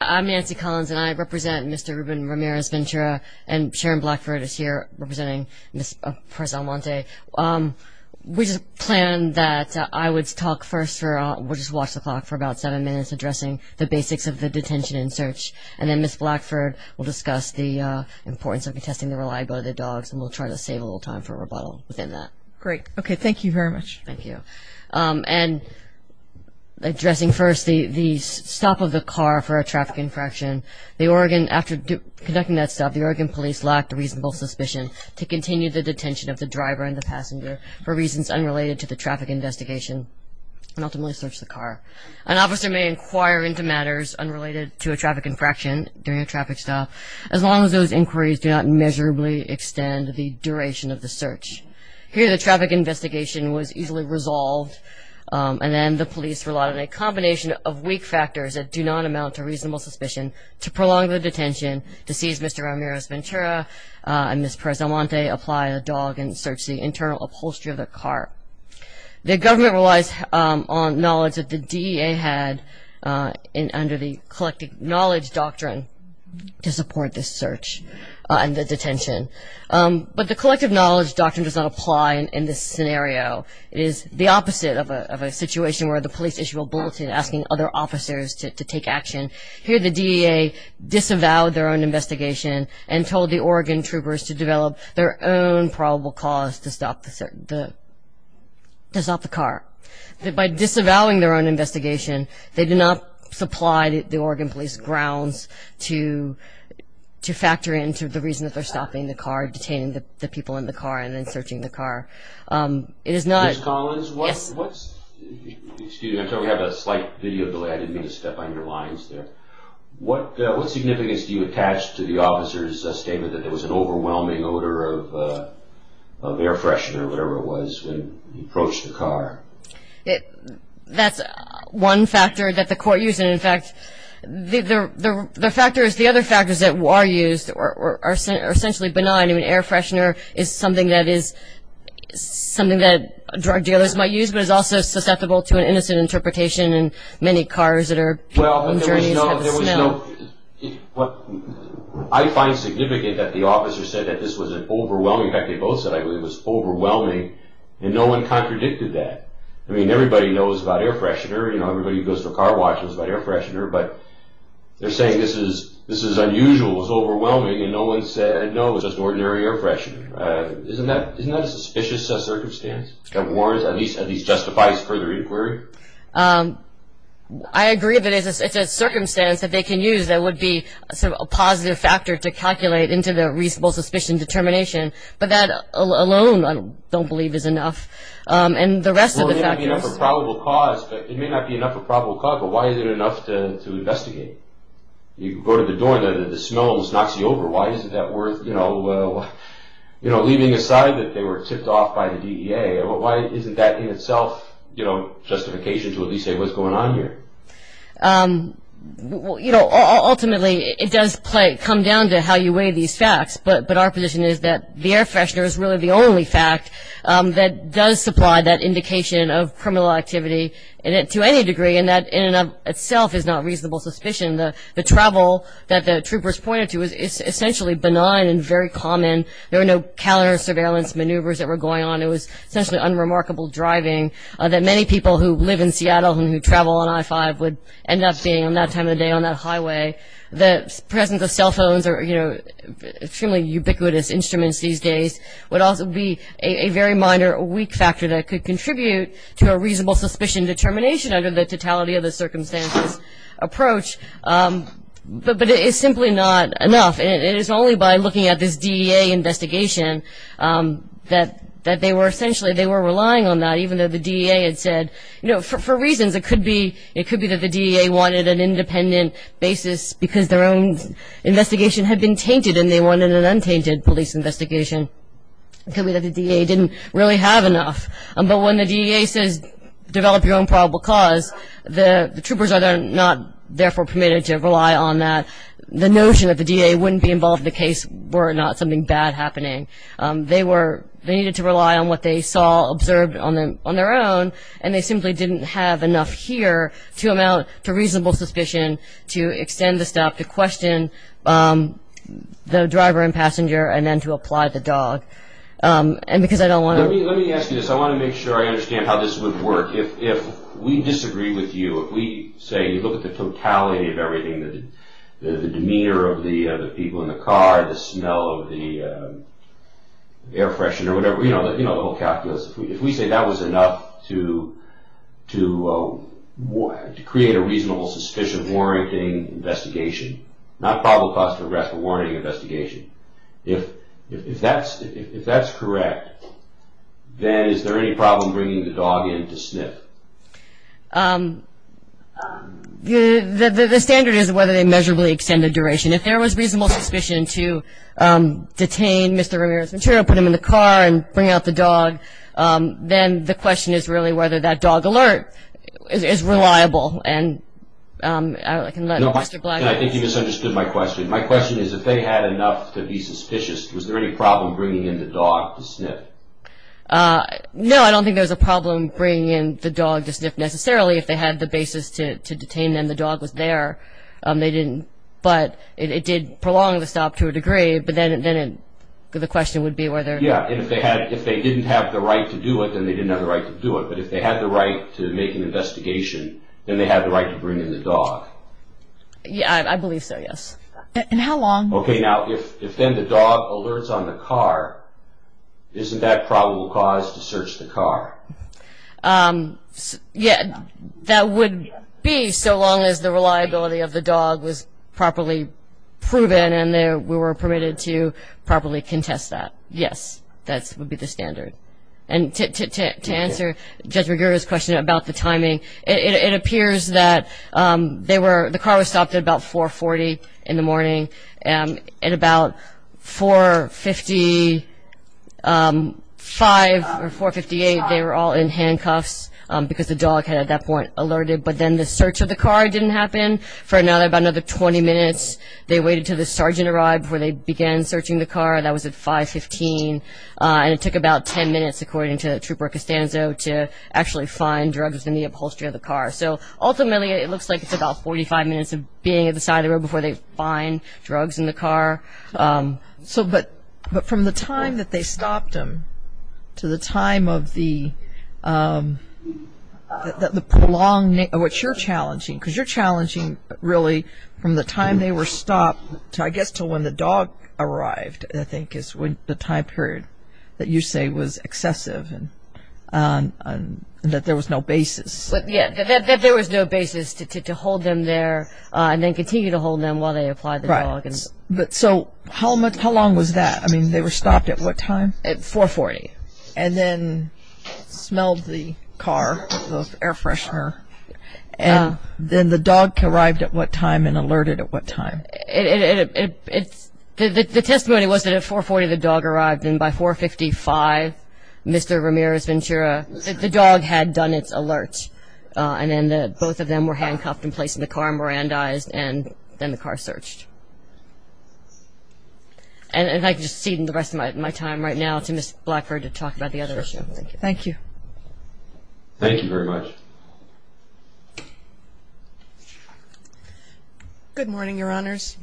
I'm Nancy Collins and I represent Mr. Ruben Ramirez Ventura and Sharon Blackford is here representing Ms. Perez-Almonte. We just planned that I would talk first, we'll just watch the clock for about seven minutes, addressing the basics of the detention and search. And then Ms. Blackford will discuss the importance of testing the reliability of the dogs and we'll try to save a little time for rebuttal within that. Great. Okay, thank you very much. Thank you. And addressing first the stop of the car for a traffic infraction, the Oregon, after conducting that stop, the Oregon police lacked reasonable suspicion to continue the detention of the driver and the passenger for reasons unrelated to the traffic investigation and ultimately searched the car. An officer may inquire into matters unrelated to a traffic infraction during a traffic stop as long as those inquiries do not measurably extend the duration of the search. Here the traffic investigation was easily resolved and then the police relied on a combination of weak factors that do not amount to reasonable suspicion to prolong the detention to seize Mr. Ramirez Ventura and Ms. Perez-Almonte, apply a dog and search the internal upholstery of the car. The government relies on knowledge that the DEA had under the collective knowledge doctrine to support this search and the detention. But the collective knowledge doctrine does not apply in this scenario. It is the opposite of a situation where the police issue a bulletin asking other officers to take action. Here the DEA disavowed their own investigation and told the Oregon troopers to develop their own probable cause to stop the car. By disavowing their own investigation, they did not supply the Oregon police grounds to factor into the reason that they're stopping the car, detaining the people in the car and then searching the car. It is not... Ms. Collins, what's... Excuse me, I'm sorry, we have a slight video delay. I didn't mean to step on your lines there. What significance do you attach to the officer's statement that there was an overwhelming odor of air freshener or whatever it was when he approached the car? That's one factor that the court used. In fact, the other factors that are used are essentially benign. Air freshener is something that drug dealers might use but is also susceptible to an innocent interpretation in many cars that are... Well, there was no... I find significant that the officer said that this was an overwhelming... I mean, everybody knows about air freshener. You know, everybody who goes to a car wash knows about air freshener. But they're saying this is unusual, this is overwhelming and no one said, no, it was just ordinary air freshener. Isn't that a suspicious circumstance? At least it justifies further inquiry. I agree that it's a circumstance that they can use that would be a positive factor to calculate into the reasonable suspicion determination. But that alone I don't believe is enough. And the rest of the factors... Well, it may not be enough for probable cause, but why is it enough to investigate? You go to the door and the smell knocks you over. Why isn't that worth leaving aside that they were tipped off by the DEA? Why isn't that in itself justification to at least say what's going on here? Ultimately, it does come down to how you weigh these facts. But our position is that the air freshener is really the only fact that does supply that indication of criminal activity to any degree and that in and of itself is not reasonable suspicion. The travel that the troopers pointed to is essentially benign and very common. There were no counter-surveillance maneuvers that were going on. It was essentially unremarkable driving that many people who live in Seattle and who travel on I-5 would end up being on that time of the day on that highway. The presence of cell phones or, you know, extremely ubiquitous instruments these days would also be a very minor weak factor that could contribute to a reasonable suspicion determination under the totality of the circumstances approach. But it is simply not enough. It is only by looking at this DEA investigation that they were essentially relying on that, even though the DEA had said, you know, for reasons. It could be that the DEA wanted an independent basis because their own investigation had been tainted and they wanted an untainted police investigation. It could be that the DEA didn't really have enough. But when the DEA says develop your own probable cause, the troopers are not therefore permitted to rely on that. The notion that the DEA wouldn't be involved in the case were not something bad happening. They needed to rely on what they saw, observed on their own, and they simply didn't have enough here to amount to reasonable suspicion to extend the stop to question the driver and passenger and then to apply the dog. And because I don't want to- Let me ask you this. I want to make sure I understand how this would work. If we disagree with you, if we say you look at the totality of everything, the demeanor of the people in the car, the smell of the air freshener, whatever, you know, the whole calculus, if we say that was enough to create a reasonable suspicion warranting investigation, not probable cause for arrest but warranting investigation, if that's correct, then is there any problem bringing the dog in to sniff? The standard is whether they measurably extend the duration. If there was reasonable suspicion to detain Mr. Ramirez's material, put him in the car, and bring out the dog, then the question is really whether that dog alert is reliable. And I can let Mr. Black- I think you misunderstood my question. My question is if they had enough to be suspicious, was there any problem bringing in the dog to sniff? No, I don't think there was a problem bringing in the dog to sniff necessarily. If they had the basis to detain them, the dog was there. They didn't. But it did prolong the stop to a degree, but then the question would be whether- Yeah, and if they didn't have the right to do it, then they didn't have the right to do it. But if they had the right to make an investigation, then they had the right to bring in the dog. Yeah, I believe so, yes. And how long- Okay, now, if then the dog alerts on the car, isn't that probable cause to search the car? Yeah, that would be so long as the reliability of the dog was properly proven and we were permitted to properly contest that. Yes, that would be the standard. And to answer Judge Riguero's question about the timing, it appears that they were- the car was stopped at about 4.40 in the morning. At about 4.55 or 4.58, they were all in handcuffs because the dog had, at that point, alerted. But then the search of the car didn't happen for about another 20 minutes. They waited until the sergeant arrived before they began searching the car. That was at 5.15. And it took about 10 minutes, according to Trooper Costanzo, to actually find drugs in the upholstery of the car. So ultimately, it looks like it's about 45 minutes of being at the side of the road before they find drugs in the car. But from the time that they stopped them to the time of the prolonged- because you're challenging, really, from the time they were stopped, I guess, to when the dog arrived, I think, is the time period that you say was excessive and that there was no basis. Yes, that there was no basis to hold them there and then continue to hold them while they applied the drug. So how long was that? I mean, they were stopped at what time? At 4.40. And then smelled the car, the air freshener. And then the dog arrived at what time and alerted at what time? The testimony was that at 4.40 the dog arrived, and by 4.55, Mr. Ramirez-Ventura, the dog had done its alert. And then both of them were handcuffed and placed in the car and Mirandized, and then the car searched. And if I could just cede the rest of my time right now to Ms. Blackford to talk about the other issue. Thank you. Thank you very much. Good morning, Your Honors.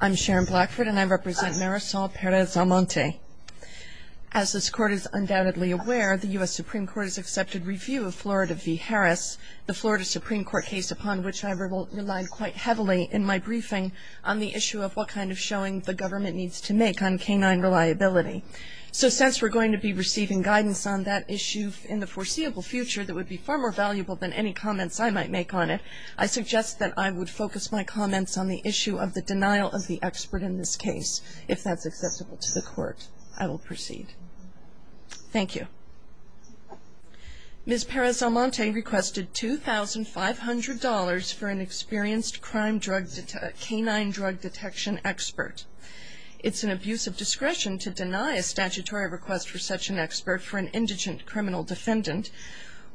I'm Sharon Blackford, and I represent Marisol Perez-Armonte. As this Court is undoubtedly aware, the U.S. Supreme Court has accepted review of Florida v. Harris, the Florida Supreme Court case upon which I relied quite heavily in my briefing on the issue of what kind of showing the government needs to make on canine reliability. So since we're going to be receiving guidance on that issue in the foreseeable future that would be far more valuable than any comments I might make on it, I suggest that I would focus my comments on the issue of the denial of the expert in this case. If that's accessible to the Court, I will proceed. Thank you. Ms. Perez-Armonte requested $2,500 for an experienced canine drug detection expert. It's an abuse of discretion to deny a statutory request for such an expert for an indigent criminal defendant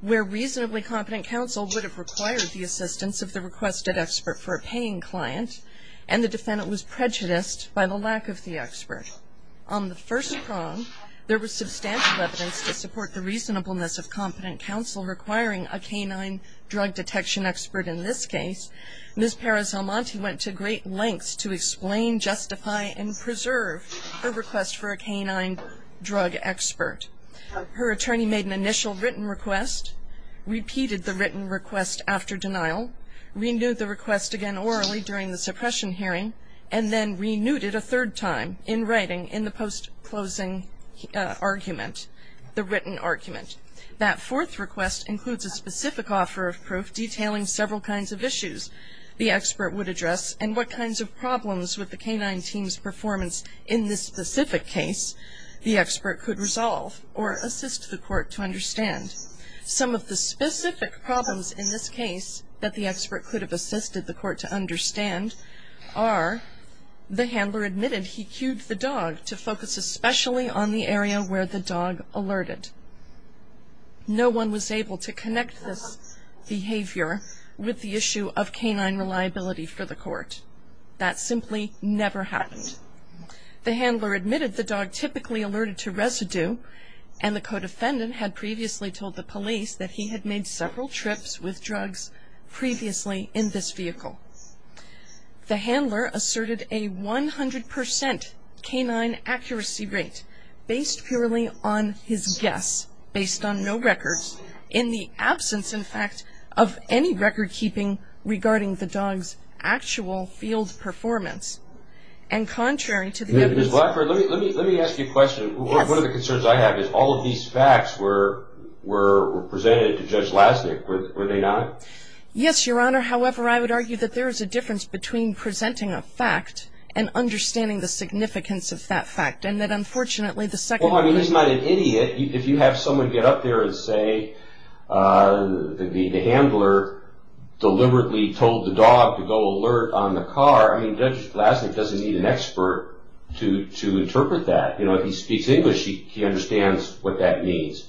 where reasonably competent counsel would have required the assistance of the requested expert for a paying client, and the defendant was prejudiced by the lack of the expert. On the first prong, there was substantial evidence to support the reasonableness of competent counsel requiring a canine drug detection expert in this case. Ms. Perez-Armonte went to great lengths to explain, justify, and preserve her request for a canine drug expert. Her attorney made an initial written request, repeated the written request after denial, renewed the request again orally during the suppression hearing, and then renewed it a third time in writing in the post-closing argument, the written argument. That fourth request includes a specific offer of proof detailing several kinds of issues the expert would address and what kinds of problems with the canine team's performance in this specific case the expert could resolve or assist the Court to understand. Some of the specific problems in this case that the expert could have assisted the Court to understand are the handler admitted he cued the dog to focus especially on the area where the dog alerted. No one was able to connect this behavior with the issue of canine reliability for the Court. That simply never happened. The handler admitted the dog typically alerted to residue and the co-defendant had previously told the police that he had made several trips with drugs previously in this vehicle. The handler asserted a 100% canine accuracy rate based purely on his guess, based on no records, in the absence, in fact, of any record keeping regarding the dog's actual field performance and contrary to the evidence. Ms. Blackburn, let me ask you a question. Yes. One of the concerns I have is all of these facts were presented to Judge Lasnik. Were they not? Yes, Your Honor. However, I would argue that there is a difference between presenting a fact and understanding the significance of that fact and that, unfortunately, the second... Well, I mean, he's not an idiot. If you have someone get up there and say the handler deliberately told the dog to go alert on the car, I mean, Judge Lasnik doesn't need an expert to interpret that. If he speaks English, he understands what that means.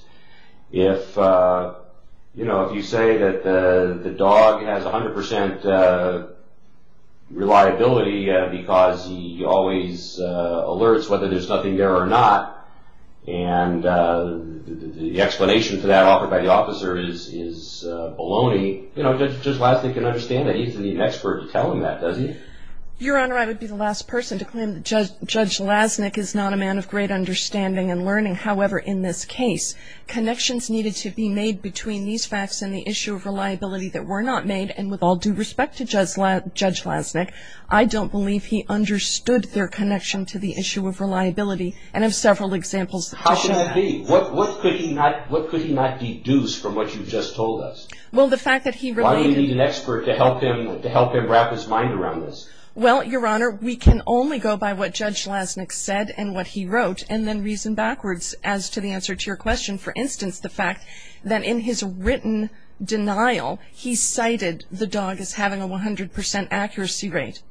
If you say that the dog has 100% reliability because he always alerts whether there's nothing there or not and the explanation for that offered by the officer is baloney, Judge Lasnik can understand that. He doesn't need an expert to tell him that, does he? Your Honor, I would be the last person to claim that Judge Lasnik is not a man of great understanding and learning. However, in this case, connections needed to be made between these facts and the issue of reliability that were not made, and with all due respect to Judge Lasnik, I don't believe he understood their connection to the issue of reliability and have several examples to show that. How could that be? What could he not deduce from what you just told us? Well, the fact that he related Why do you need an expert to help him wrap his mind around this? Well, Your Honor, we can only go by what Judge Lasnik said and what he wrote and then reason backwards as to the answer to your question. For instance, the fact that in his written denial, he cited the dog as having a 100% accuracy rate,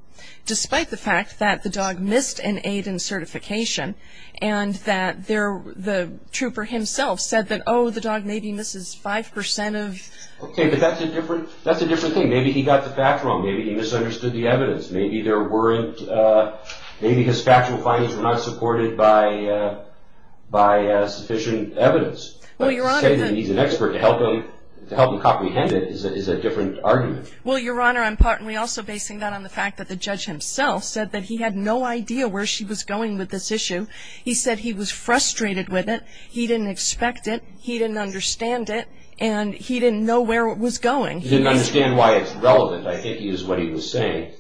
despite the fact that the dog missed an aid and certification and that the trooper himself said that, oh, the dog maybe misses 5% of Okay, but that's a different thing. Maybe he got the facts wrong. Maybe he misunderstood the evidence. Maybe there weren't, maybe his factual findings were not supported by sufficient evidence. But to say that he's an expert to help him comprehend it is a different argument. Well, Your Honor, I'm partly also basing that on the fact that the judge himself said that he had no idea where she was going with this issue. He said he was frustrated with it, he didn't expect it, he didn't understand it, and he didn't know where it was going. He didn't understand why it's relevant, I think is what he was saying.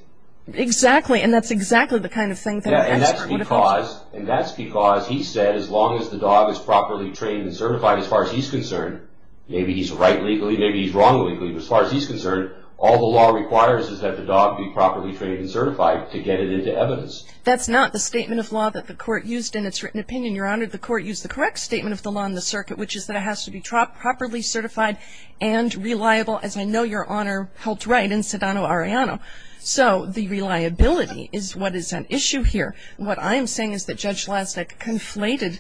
Exactly, and that's exactly the kind of thing that an expert would do. And that's because he said as long as the dog is properly trained and certified, as far as he's concerned, maybe he's right legally, maybe he's wrong legally, but as far as he's concerned, all the law requires is that the dog be properly trained and certified to get it into evidence. That's not the statement of law that the Court used in its written opinion, Your Honor. The Court used the correct statement of the law in the circuit, which is that it has to be properly certified and reliable, as I know Your Honor held right in Sedano-Arellano. So the reliability is what is at issue here. What I am saying is that Judge Lasnik conflated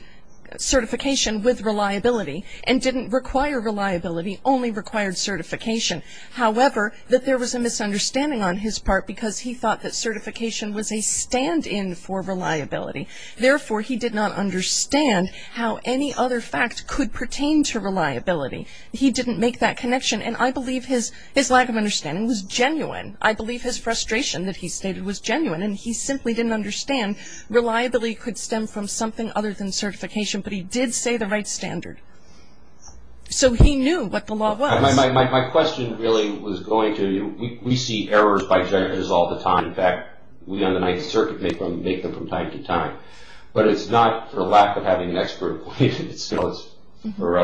certification with reliability and didn't require reliability, only required certification. However, that there was a misunderstanding on his part because he thought that certification was a stand-in for reliability. Therefore, he did not understand how any other fact could pertain to reliability. He didn't make that connection, and I believe his lack of understanding was genuine. I believe his frustration that he stated was genuine, and he simply didn't understand reliability could stem from something other than certification, but he did say the right standard. So he knew what the law was. My question really was going to you. We see errors by judges all the time. In fact, we on the Ninth Circuit make them from time to time. But it's not for lack of having an expert opinion. It's for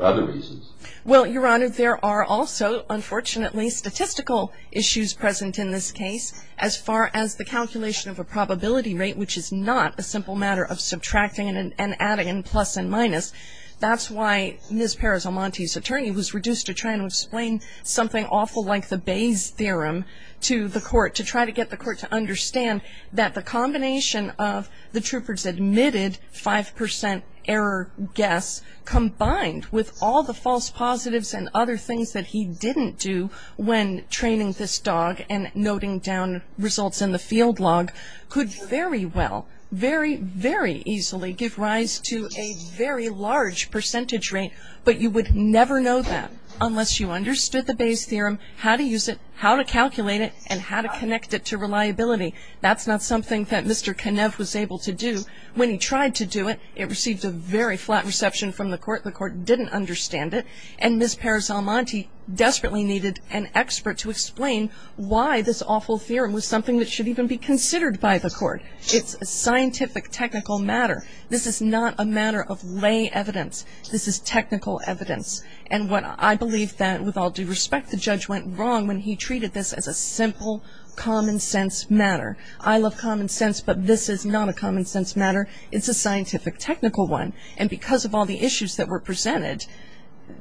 other reasons. Well, Your Honor, there are also unfortunately statistical issues present in this case as far as the calculation of a probability rate, which is not a simple matter of subtracting and adding and plus and minus. That's why Ms. Perez-Almonte's attorney was reduced to trying to explain something awful like the Bayes theorem to the court to try to get the court to understand that the combination of the trooper's admitted 5% error guess combined with all the false positives and other things that he didn't do when training this dog and noting down results in the field log could very well, very, very easily give rise to a very large percentage rate. But you would never know that unless you understood the Bayes theorem, how to use it, how to calculate it, and how to connect it to reliability. That's not something that Mr. Kenev was able to do. When he tried to do it, it received a very flat reception from the court. The court didn't understand it. And Ms. Perez-Almonte desperately needed an expert to explain why this awful theorem was something that should even be considered by the court. It's a scientific, technical matter. This is not a matter of lay evidence. This is technical evidence. And I believe that, with all due respect, the judge went wrong when he treated this as a simple, common-sense matter. I love common sense, but this is not a common-sense matter. It's a scientific, technical one. And because of all the issues that were presented,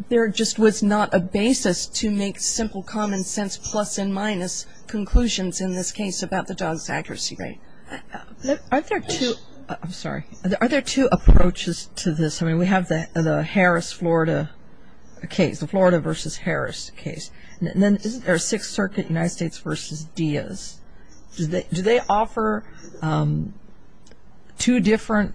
there just was not a basis to make simple, common-sense plus and minus conclusions in this case about the dog's accuracy rate. Are there two approaches to this? I mean, we have the Harris-Florida case, the Florida v. Harris case. And then is there a Sixth Circuit United States v. Diaz? Do they offer two different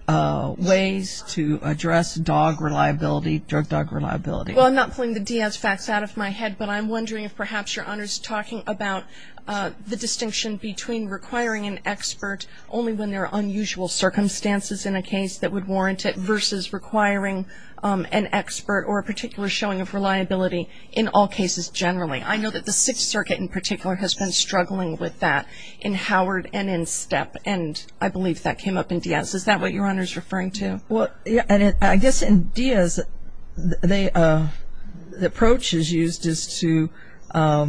ways to address dog reliability, drug dog reliability? Well, I'm not pulling the Diaz facts out of my head, but I'm wondering if perhaps Your Honor is talking about the distinction between requiring an expert only when there are unusual circumstances in a case that would warrant it versus requiring an expert or a particular showing of reliability in all cases generally. I know that the Sixth Circuit in particular has been struggling with that in Howard and in Steppe, and I believe that came up in Diaz. Is that what Your Honor is referring to? Well, I guess in Diaz, the approach is used is to, I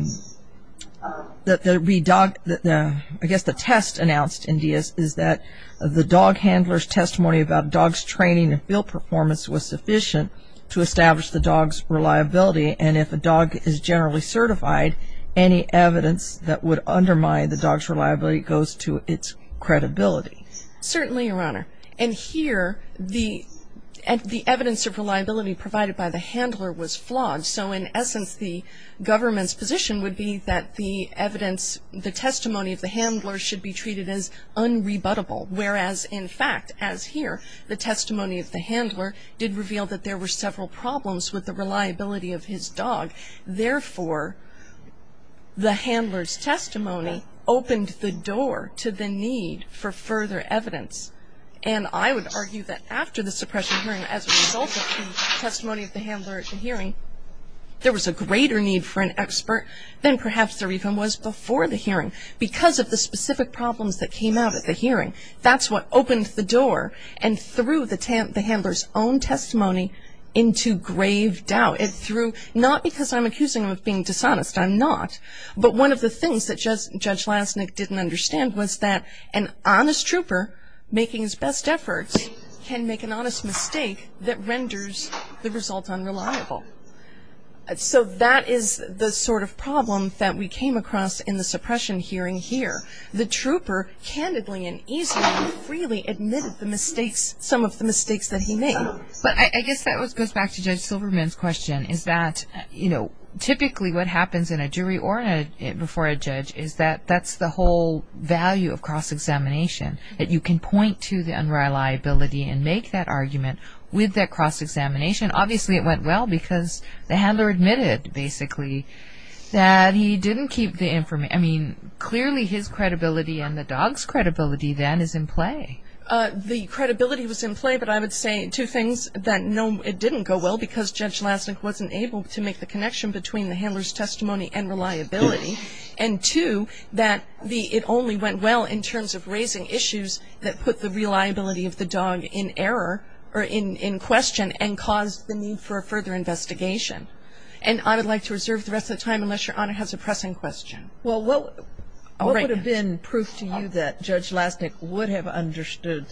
guess the test announced in Diaz is that the dog handler's testimony about dog's training and field performance was sufficient to establish the dog's reliability. And if a dog is generally certified, any evidence that would undermine the dog's reliability goes to its credibility. Certainly, Your Honor. And here, the evidence of reliability provided by the handler was flawed. So in essence, the government's position would be that the evidence, the testimony of the handler should be treated as unrebuttable, whereas in fact, as here, the testimony of the handler did reveal that there were several problems with the reliability of his dog. Therefore, the handler's testimony opened the door to the need for further evidence. And I would argue that after the suppression hearing, as a result of the testimony of the handler at the hearing, there was a greater need for an expert than perhaps there even was before the hearing because of the specific problems that came out at the hearing. That's what opened the door and threw the handler's own testimony into grave doubt. It threw, not because I'm accusing him of being dishonest. I'm not. But one of the things that Judge Lasnik didn't understand was that an honest trooper making his best efforts can make an honest mistake that renders the result unreliable. So that is the sort of problem that we came across in the suppression hearing here. The trooper candidly and easily and freely admitted some of the mistakes that he made. But I guess that goes back to Judge Silverman's question, is that typically what happens in a jury or before a judge is that that's the whole value of cross-examination, that you can point to the unreliability and make that argument with that cross-examination. Obviously, it went well because the handler admitted, basically, that he didn't keep the information. I mean, clearly his credibility and the dog's credibility then is in play. The credibility was in play, but I would say two things, that no, it didn't go well because Judge Lasnik wasn't able to make the connection between the handler's testimony and reliability, and two, that it only went well in terms of raising issues that put the reliability of the dog in error or in question and caused the need for a further investigation. And I would like to reserve the rest of the time unless Your Honor has a pressing question. Well, what would have been proof to you that Judge Lasnik would have understood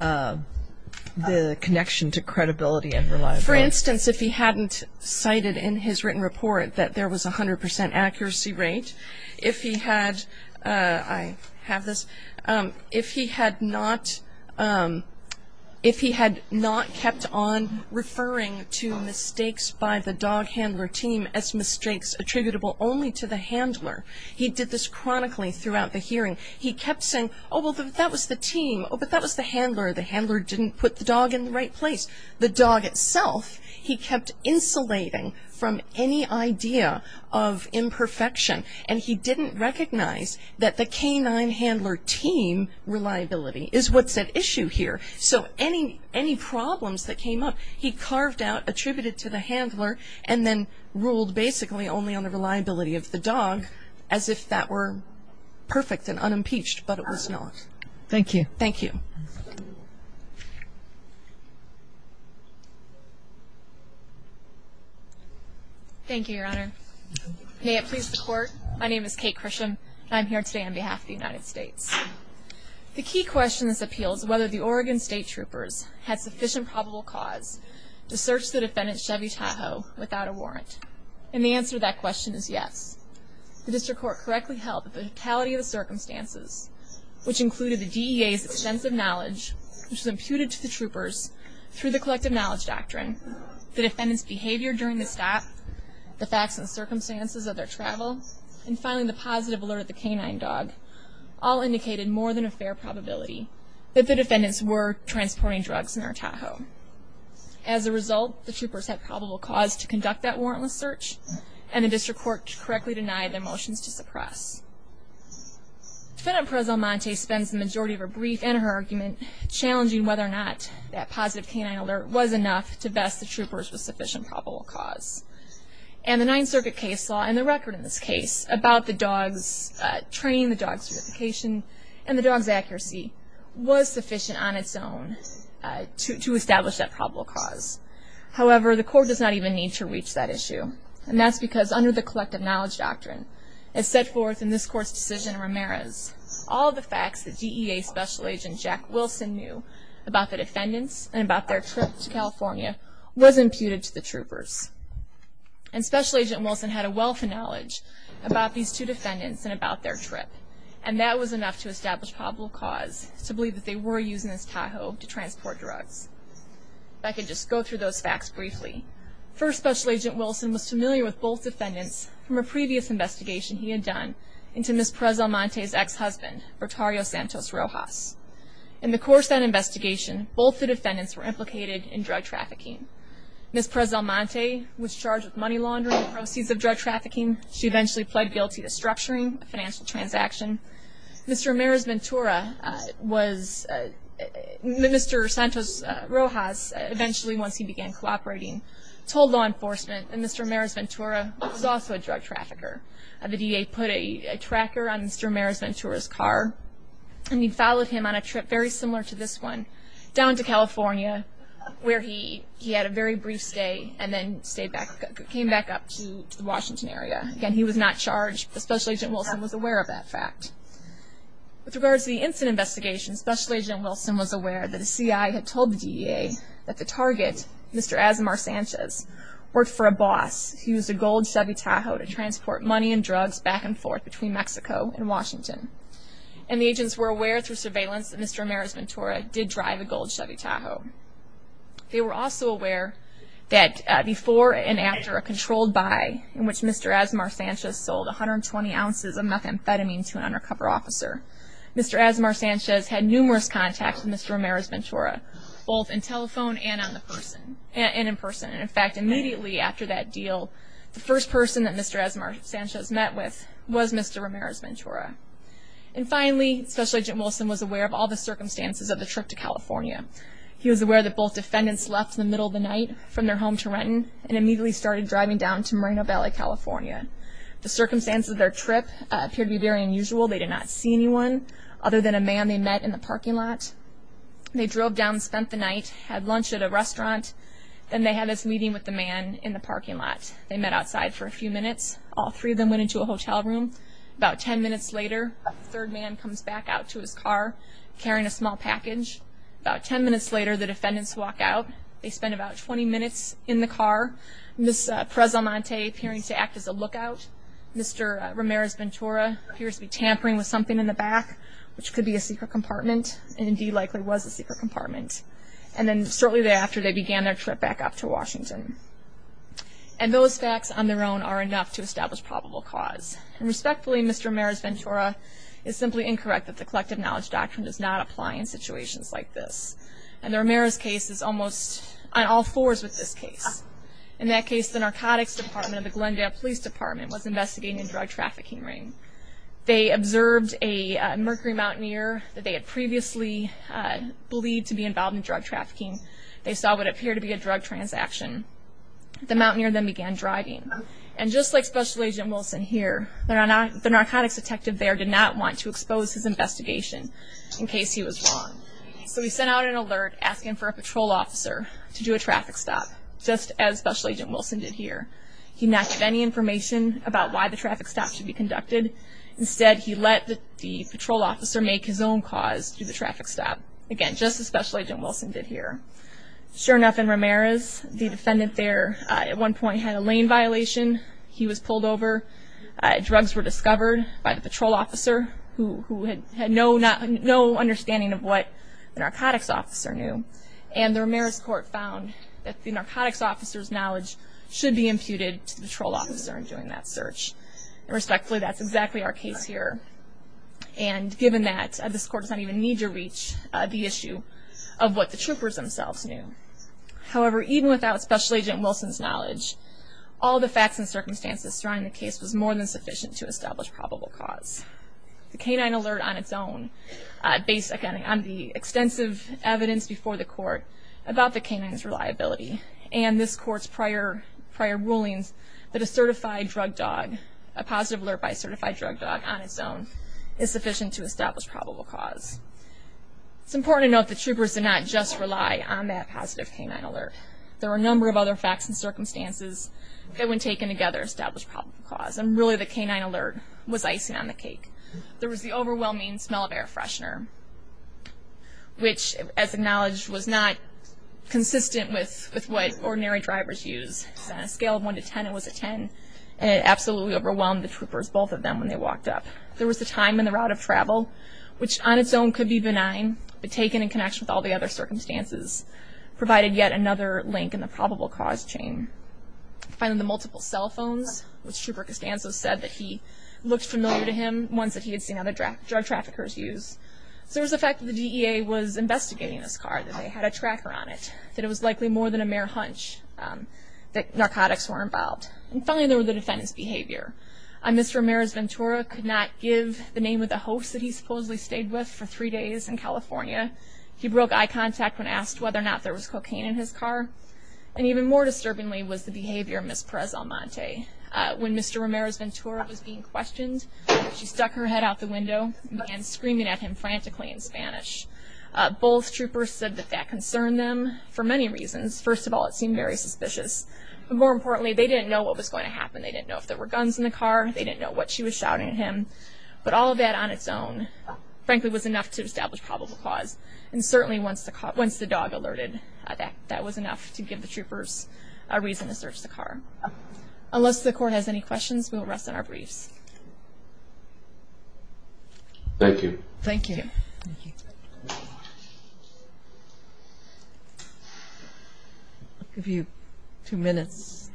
the connection to credibility and reliability? For instance, if he hadn't cited in his written report that there was a 100% accuracy rate, if he had not kept on referring to mistakes by the dog handler team as mistakes attributable only to the handler. He did this chronically throughout the hearing. He kept saying, oh, well, that was the team, but that was the handler. The handler didn't put the dog in the right place. The dog itself, he kept insulating from any idea of imperfection, and he didn't recognize that the canine handler team reliability is what's at issue here. So any problems that came up, he carved out, attributed to the handler, and then ruled basically only on the reliability of the dog as if that were perfect and unimpeached, but it was not. Thank you. Thank you. Thank you, Your Honor. May it please the Court, my name is Kate Chrisham, and I'm here today on behalf of the United States. The key question this appeals to is whether the Oregon State Troopers had sufficient probable cause to search the defendant, Chevy Tahoe, without a warrant. And the answer to that question is yes. The district court correctly held that the totality of the circumstances, which included the DEA's extensive knowledge, which was imputed to the troopers through the collective knowledge doctrine, the defendant's behavior during the stop, the facts and circumstances of their travel, and finally the positive alert of the canine dog, all indicated more than a fair probability that the defendants were transporting drugs in their Tahoe. As a result, the troopers had probable cause to conduct that warrantless search, and the district court correctly denied their motions to suppress. Defendant Perez-Almonte spends the majority of her brief and her argument challenging whether or not that positive canine alert was enough to vest the troopers with sufficient probable cause. And the Ninth Circuit case law and the record in this case about the dog's training, the dog's certification, and the dog's accuracy was sufficient on its own to establish that probable cause. However, the court does not even need to reach that issue, and that's because under the collective knowledge doctrine, as set forth in this court's decision in Ramirez, all the facts that DEA Special Agent Jack Wilson knew about the defendants and about their trip to California was imputed to the troopers. And Special Agent Wilson had a wealth of knowledge about these two defendants and about their trip, and that was enough to establish probable cause to believe that they were using this Tahoe to transport drugs. If I could just go through those facts briefly. First, Special Agent Wilson was familiar with both defendants from a previous investigation he had done into Ms. Perez-Almonte's ex-husband, Rotario Santos Rojas. In the course of that investigation, both the defendants were implicated in drug trafficking. Ms. Perez-Almonte was charged with money laundering and proceeds of drug trafficking. She eventually pled guilty to structuring a financial transaction. Mr. Ramirez-Ventura was – Mr. Santos Rojas, eventually once he began cooperating, told law enforcement that Mr. Ramirez-Ventura was also a drug trafficker. The DEA put a tracker on Mr. Ramirez-Ventura's car, and he followed him on a trip very similar to this one down to California, where he had a very brief stay and then came back up to the Washington area. Again, he was not charged, but Special Agent Wilson was aware of that fact. With regards to the incident investigation, Special Agent Wilson was aware that a CI had told the DEA that the target, Mr. Asmar Sanchez, worked for a boss who used a gold Chevy Tahoe to transport money and drugs back and forth between Mexico and Washington. And the agents were aware through surveillance that Mr. Ramirez-Ventura did drive a gold Chevy Tahoe. They were also aware that before and after a controlled buy, in which Mr. Asmar Sanchez sold 120 ounces of methamphetamine to an undercover officer, Mr. Asmar Sanchez had numerous contacts with Mr. Ramirez-Ventura, both in telephone and in person. In fact, immediately after that deal, the first person that Mr. Asmar Sanchez met with was Mr. Ramirez-Ventura. And finally, Special Agent Wilson was aware of all the circumstances of the trip to California. He was aware that both defendants left in the middle of the night from their home to Renton and immediately started driving down to Moreno Valley, California. The circumstances of their trip appeared to be very unusual. They did not see anyone other than a man they met in the parking lot. They drove down, spent the night, had lunch at a restaurant. Then they had this meeting with the man in the parking lot. They met outside for a few minutes. All three of them went into a hotel room. About 10 minutes later, a third man comes back out to his car carrying a small package. About 10 minutes later, the defendants walk out. They spend about 20 minutes in the car. Ms. Preselmonte appearing to act as a lookout. Mr. Ramirez-Ventura appears to be tampering with something in the back, which could be a secret compartment, and indeed likely was a secret compartment. And then shortly thereafter, they began their trip back up to Washington. And those facts on their own are enough to establish probable cause. And respectfully, Mr. Ramirez-Ventura, it's simply incorrect that the Collective Knowledge Doctrine does not apply in situations like this. And the Ramirez case is almost on all fours with this case. In that case, the narcotics department of the Glendale Police Department was investigating a drug trafficking ring. They observed a Mercury Mountaineer that they had previously believed to be involved in drug trafficking. They saw what appeared to be a drug transaction. The Mountaineer then began driving. And just like Special Agent Wilson here, the narcotics detective there did not want to expose his investigation in case he was wrong. So he sent out an alert asking for a patrol officer to do a traffic stop, just as Special Agent Wilson did here. He did not give any information about why the traffic stop should be conducted. Instead, he let the patrol officer make his own cause through the traffic stop, again, just as Special Agent Wilson did here. Sure enough, in Ramirez, the defendant there at one point had a lane violation. He was pulled over. Drugs were discovered by the patrol officer, who had no understanding of what the narcotics officer knew. And the Ramirez court found that the narcotics officer's knowledge should be imputed to the patrol officer in doing that search. And respectfully, that's exactly our case here. And given that, this court does not even need to reach the issue of what the troopers themselves knew. However, even without Special Agent Wilson's knowledge, all the facts and circumstances surrounding the case was more than sufficient to establish probable cause. The canine alert on its own, based, again, on the extensive evidence before the court about the canine's reliability, and this court's prior rulings that a certified drug dog, a positive alert by a certified drug dog on its own, is sufficient to establish probable cause. It's important to note that troopers did not just rely on that positive canine alert. There were a number of other facts and circumstances that, when taken together, established probable cause. And really, the canine alert was icing on the cake. There was the overwhelming smell of air freshener, which, as acknowledged, was not consistent with what ordinary drivers use. On a scale of 1 to 10, it was a 10, and it absolutely overwhelmed the troopers, both of them, when they walked up. There was the time and the route of travel, which, on its own, could be benign, but taken in connection with all the other circumstances, provided yet another link in the probable cause chain. Finally, the multiple cell phones, which Trooper Costanzo said that he looked familiar to him, ones that he had seen other drug traffickers use. So there was the fact that the DEA was investigating this car, that they had a tracker on it, that it was likely more than a mere hunch that narcotics were involved. And finally, there were the defendant's behavior. Mr. Ramirez-Ventura could not give the name of the host that he supposedly stayed with for three days in California. He broke eye contact when asked whether or not there was cocaine in his car. And even more disturbingly was the behavior of Ms. Perez-Almonte. When Mr. Ramirez-Ventura was being questioned, she stuck her head out the window and began screaming at him frantically in Spanish. Both troopers said that that concerned them for many reasons. First of all, it seemed very suspicious. But more importantly, they didn't know what was going to happen. They didn't know if there were guns in the car. They didn't know what she was shouting at him. But all of that on its own, frankly, was enough to establish probable cause. And certainly once the dog alerted, that was enough to give the troopers a reason to search the car. Unless the Court has any questions, we will rest on our briefs. Thank you. Thank you. I'll give you two minutes.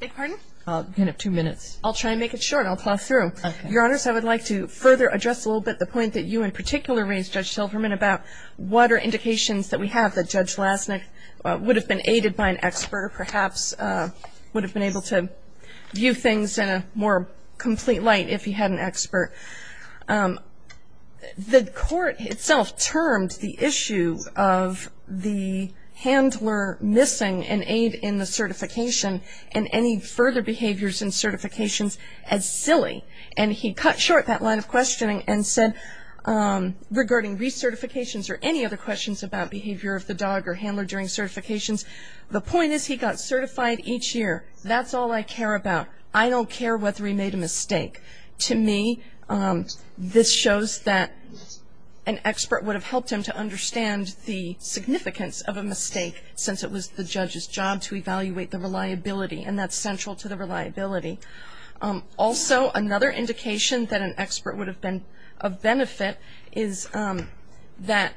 Beg your pardon? You can have two minutes. I'll try and make it short. I'll plow through. Okay. Your Honors, I would like to further address a little bit the point that you in particular raised, Judge Silverman, about what are indications that we have that Judge Lasnik would have been aided by an expert or perhaps would have been able to view things in a more complete light if he had an expert. The Court itself termed the issue of the handler missing an aide in the certification and any further behaviors in certifications as silly. And he cut short that line of questioning and said, regarding recertifications or any other questions about behavior of the dog or handler during certifications, the point is he got certified each year. That's all I care about. I don't care whether he made a mistake. To me, this shows that an expert would have helped him to understand the significance of a mistake since it was the judge's job to evaluate the reliability, and that's central to the reliability. Also, another indication that an expert would have been of benefit is that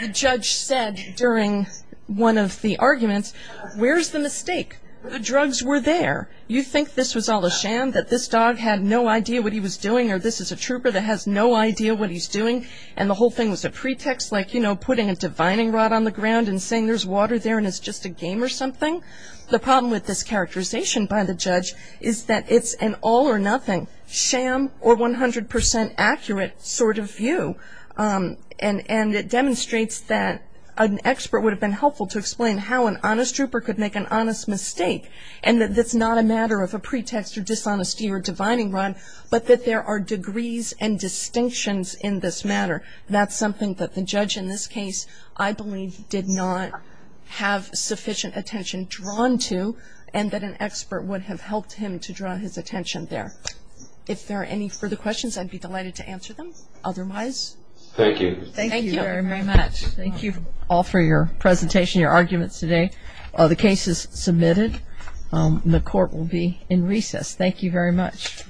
the judge said during one of the arguments, where's the mistake? The drugs were there. You think this was all a sham, that this dog had no idea what he was doing, or this is a trooper that has no idea what he's doing, and the whole thing was a pretext, like, you know, putting a divining rod on the ground and saying there's water there and it's just a game or something? The problem with this characterization by the judge is that it's an all or nothing sham or 100% accurate sort of view. And it demonstrates that an expert would have been helpful to explain how an honest trooper could make an honest mistake, and that that's not a matter of a pretext or dishonesty or divining rod, but that there are degrees and distinctions in this matter. That's something that the judge in this case, I believe, did not have sufficient attention drawn to and that an expert would have helped him to draw his attention there. If there are any further questions, I'd be delighted to answer them. Otherwise. Thank you. Thank you very, very much. Thank you all for your presentation, your arguments today. The case is submitted. The court will be in recess. Thank you very much.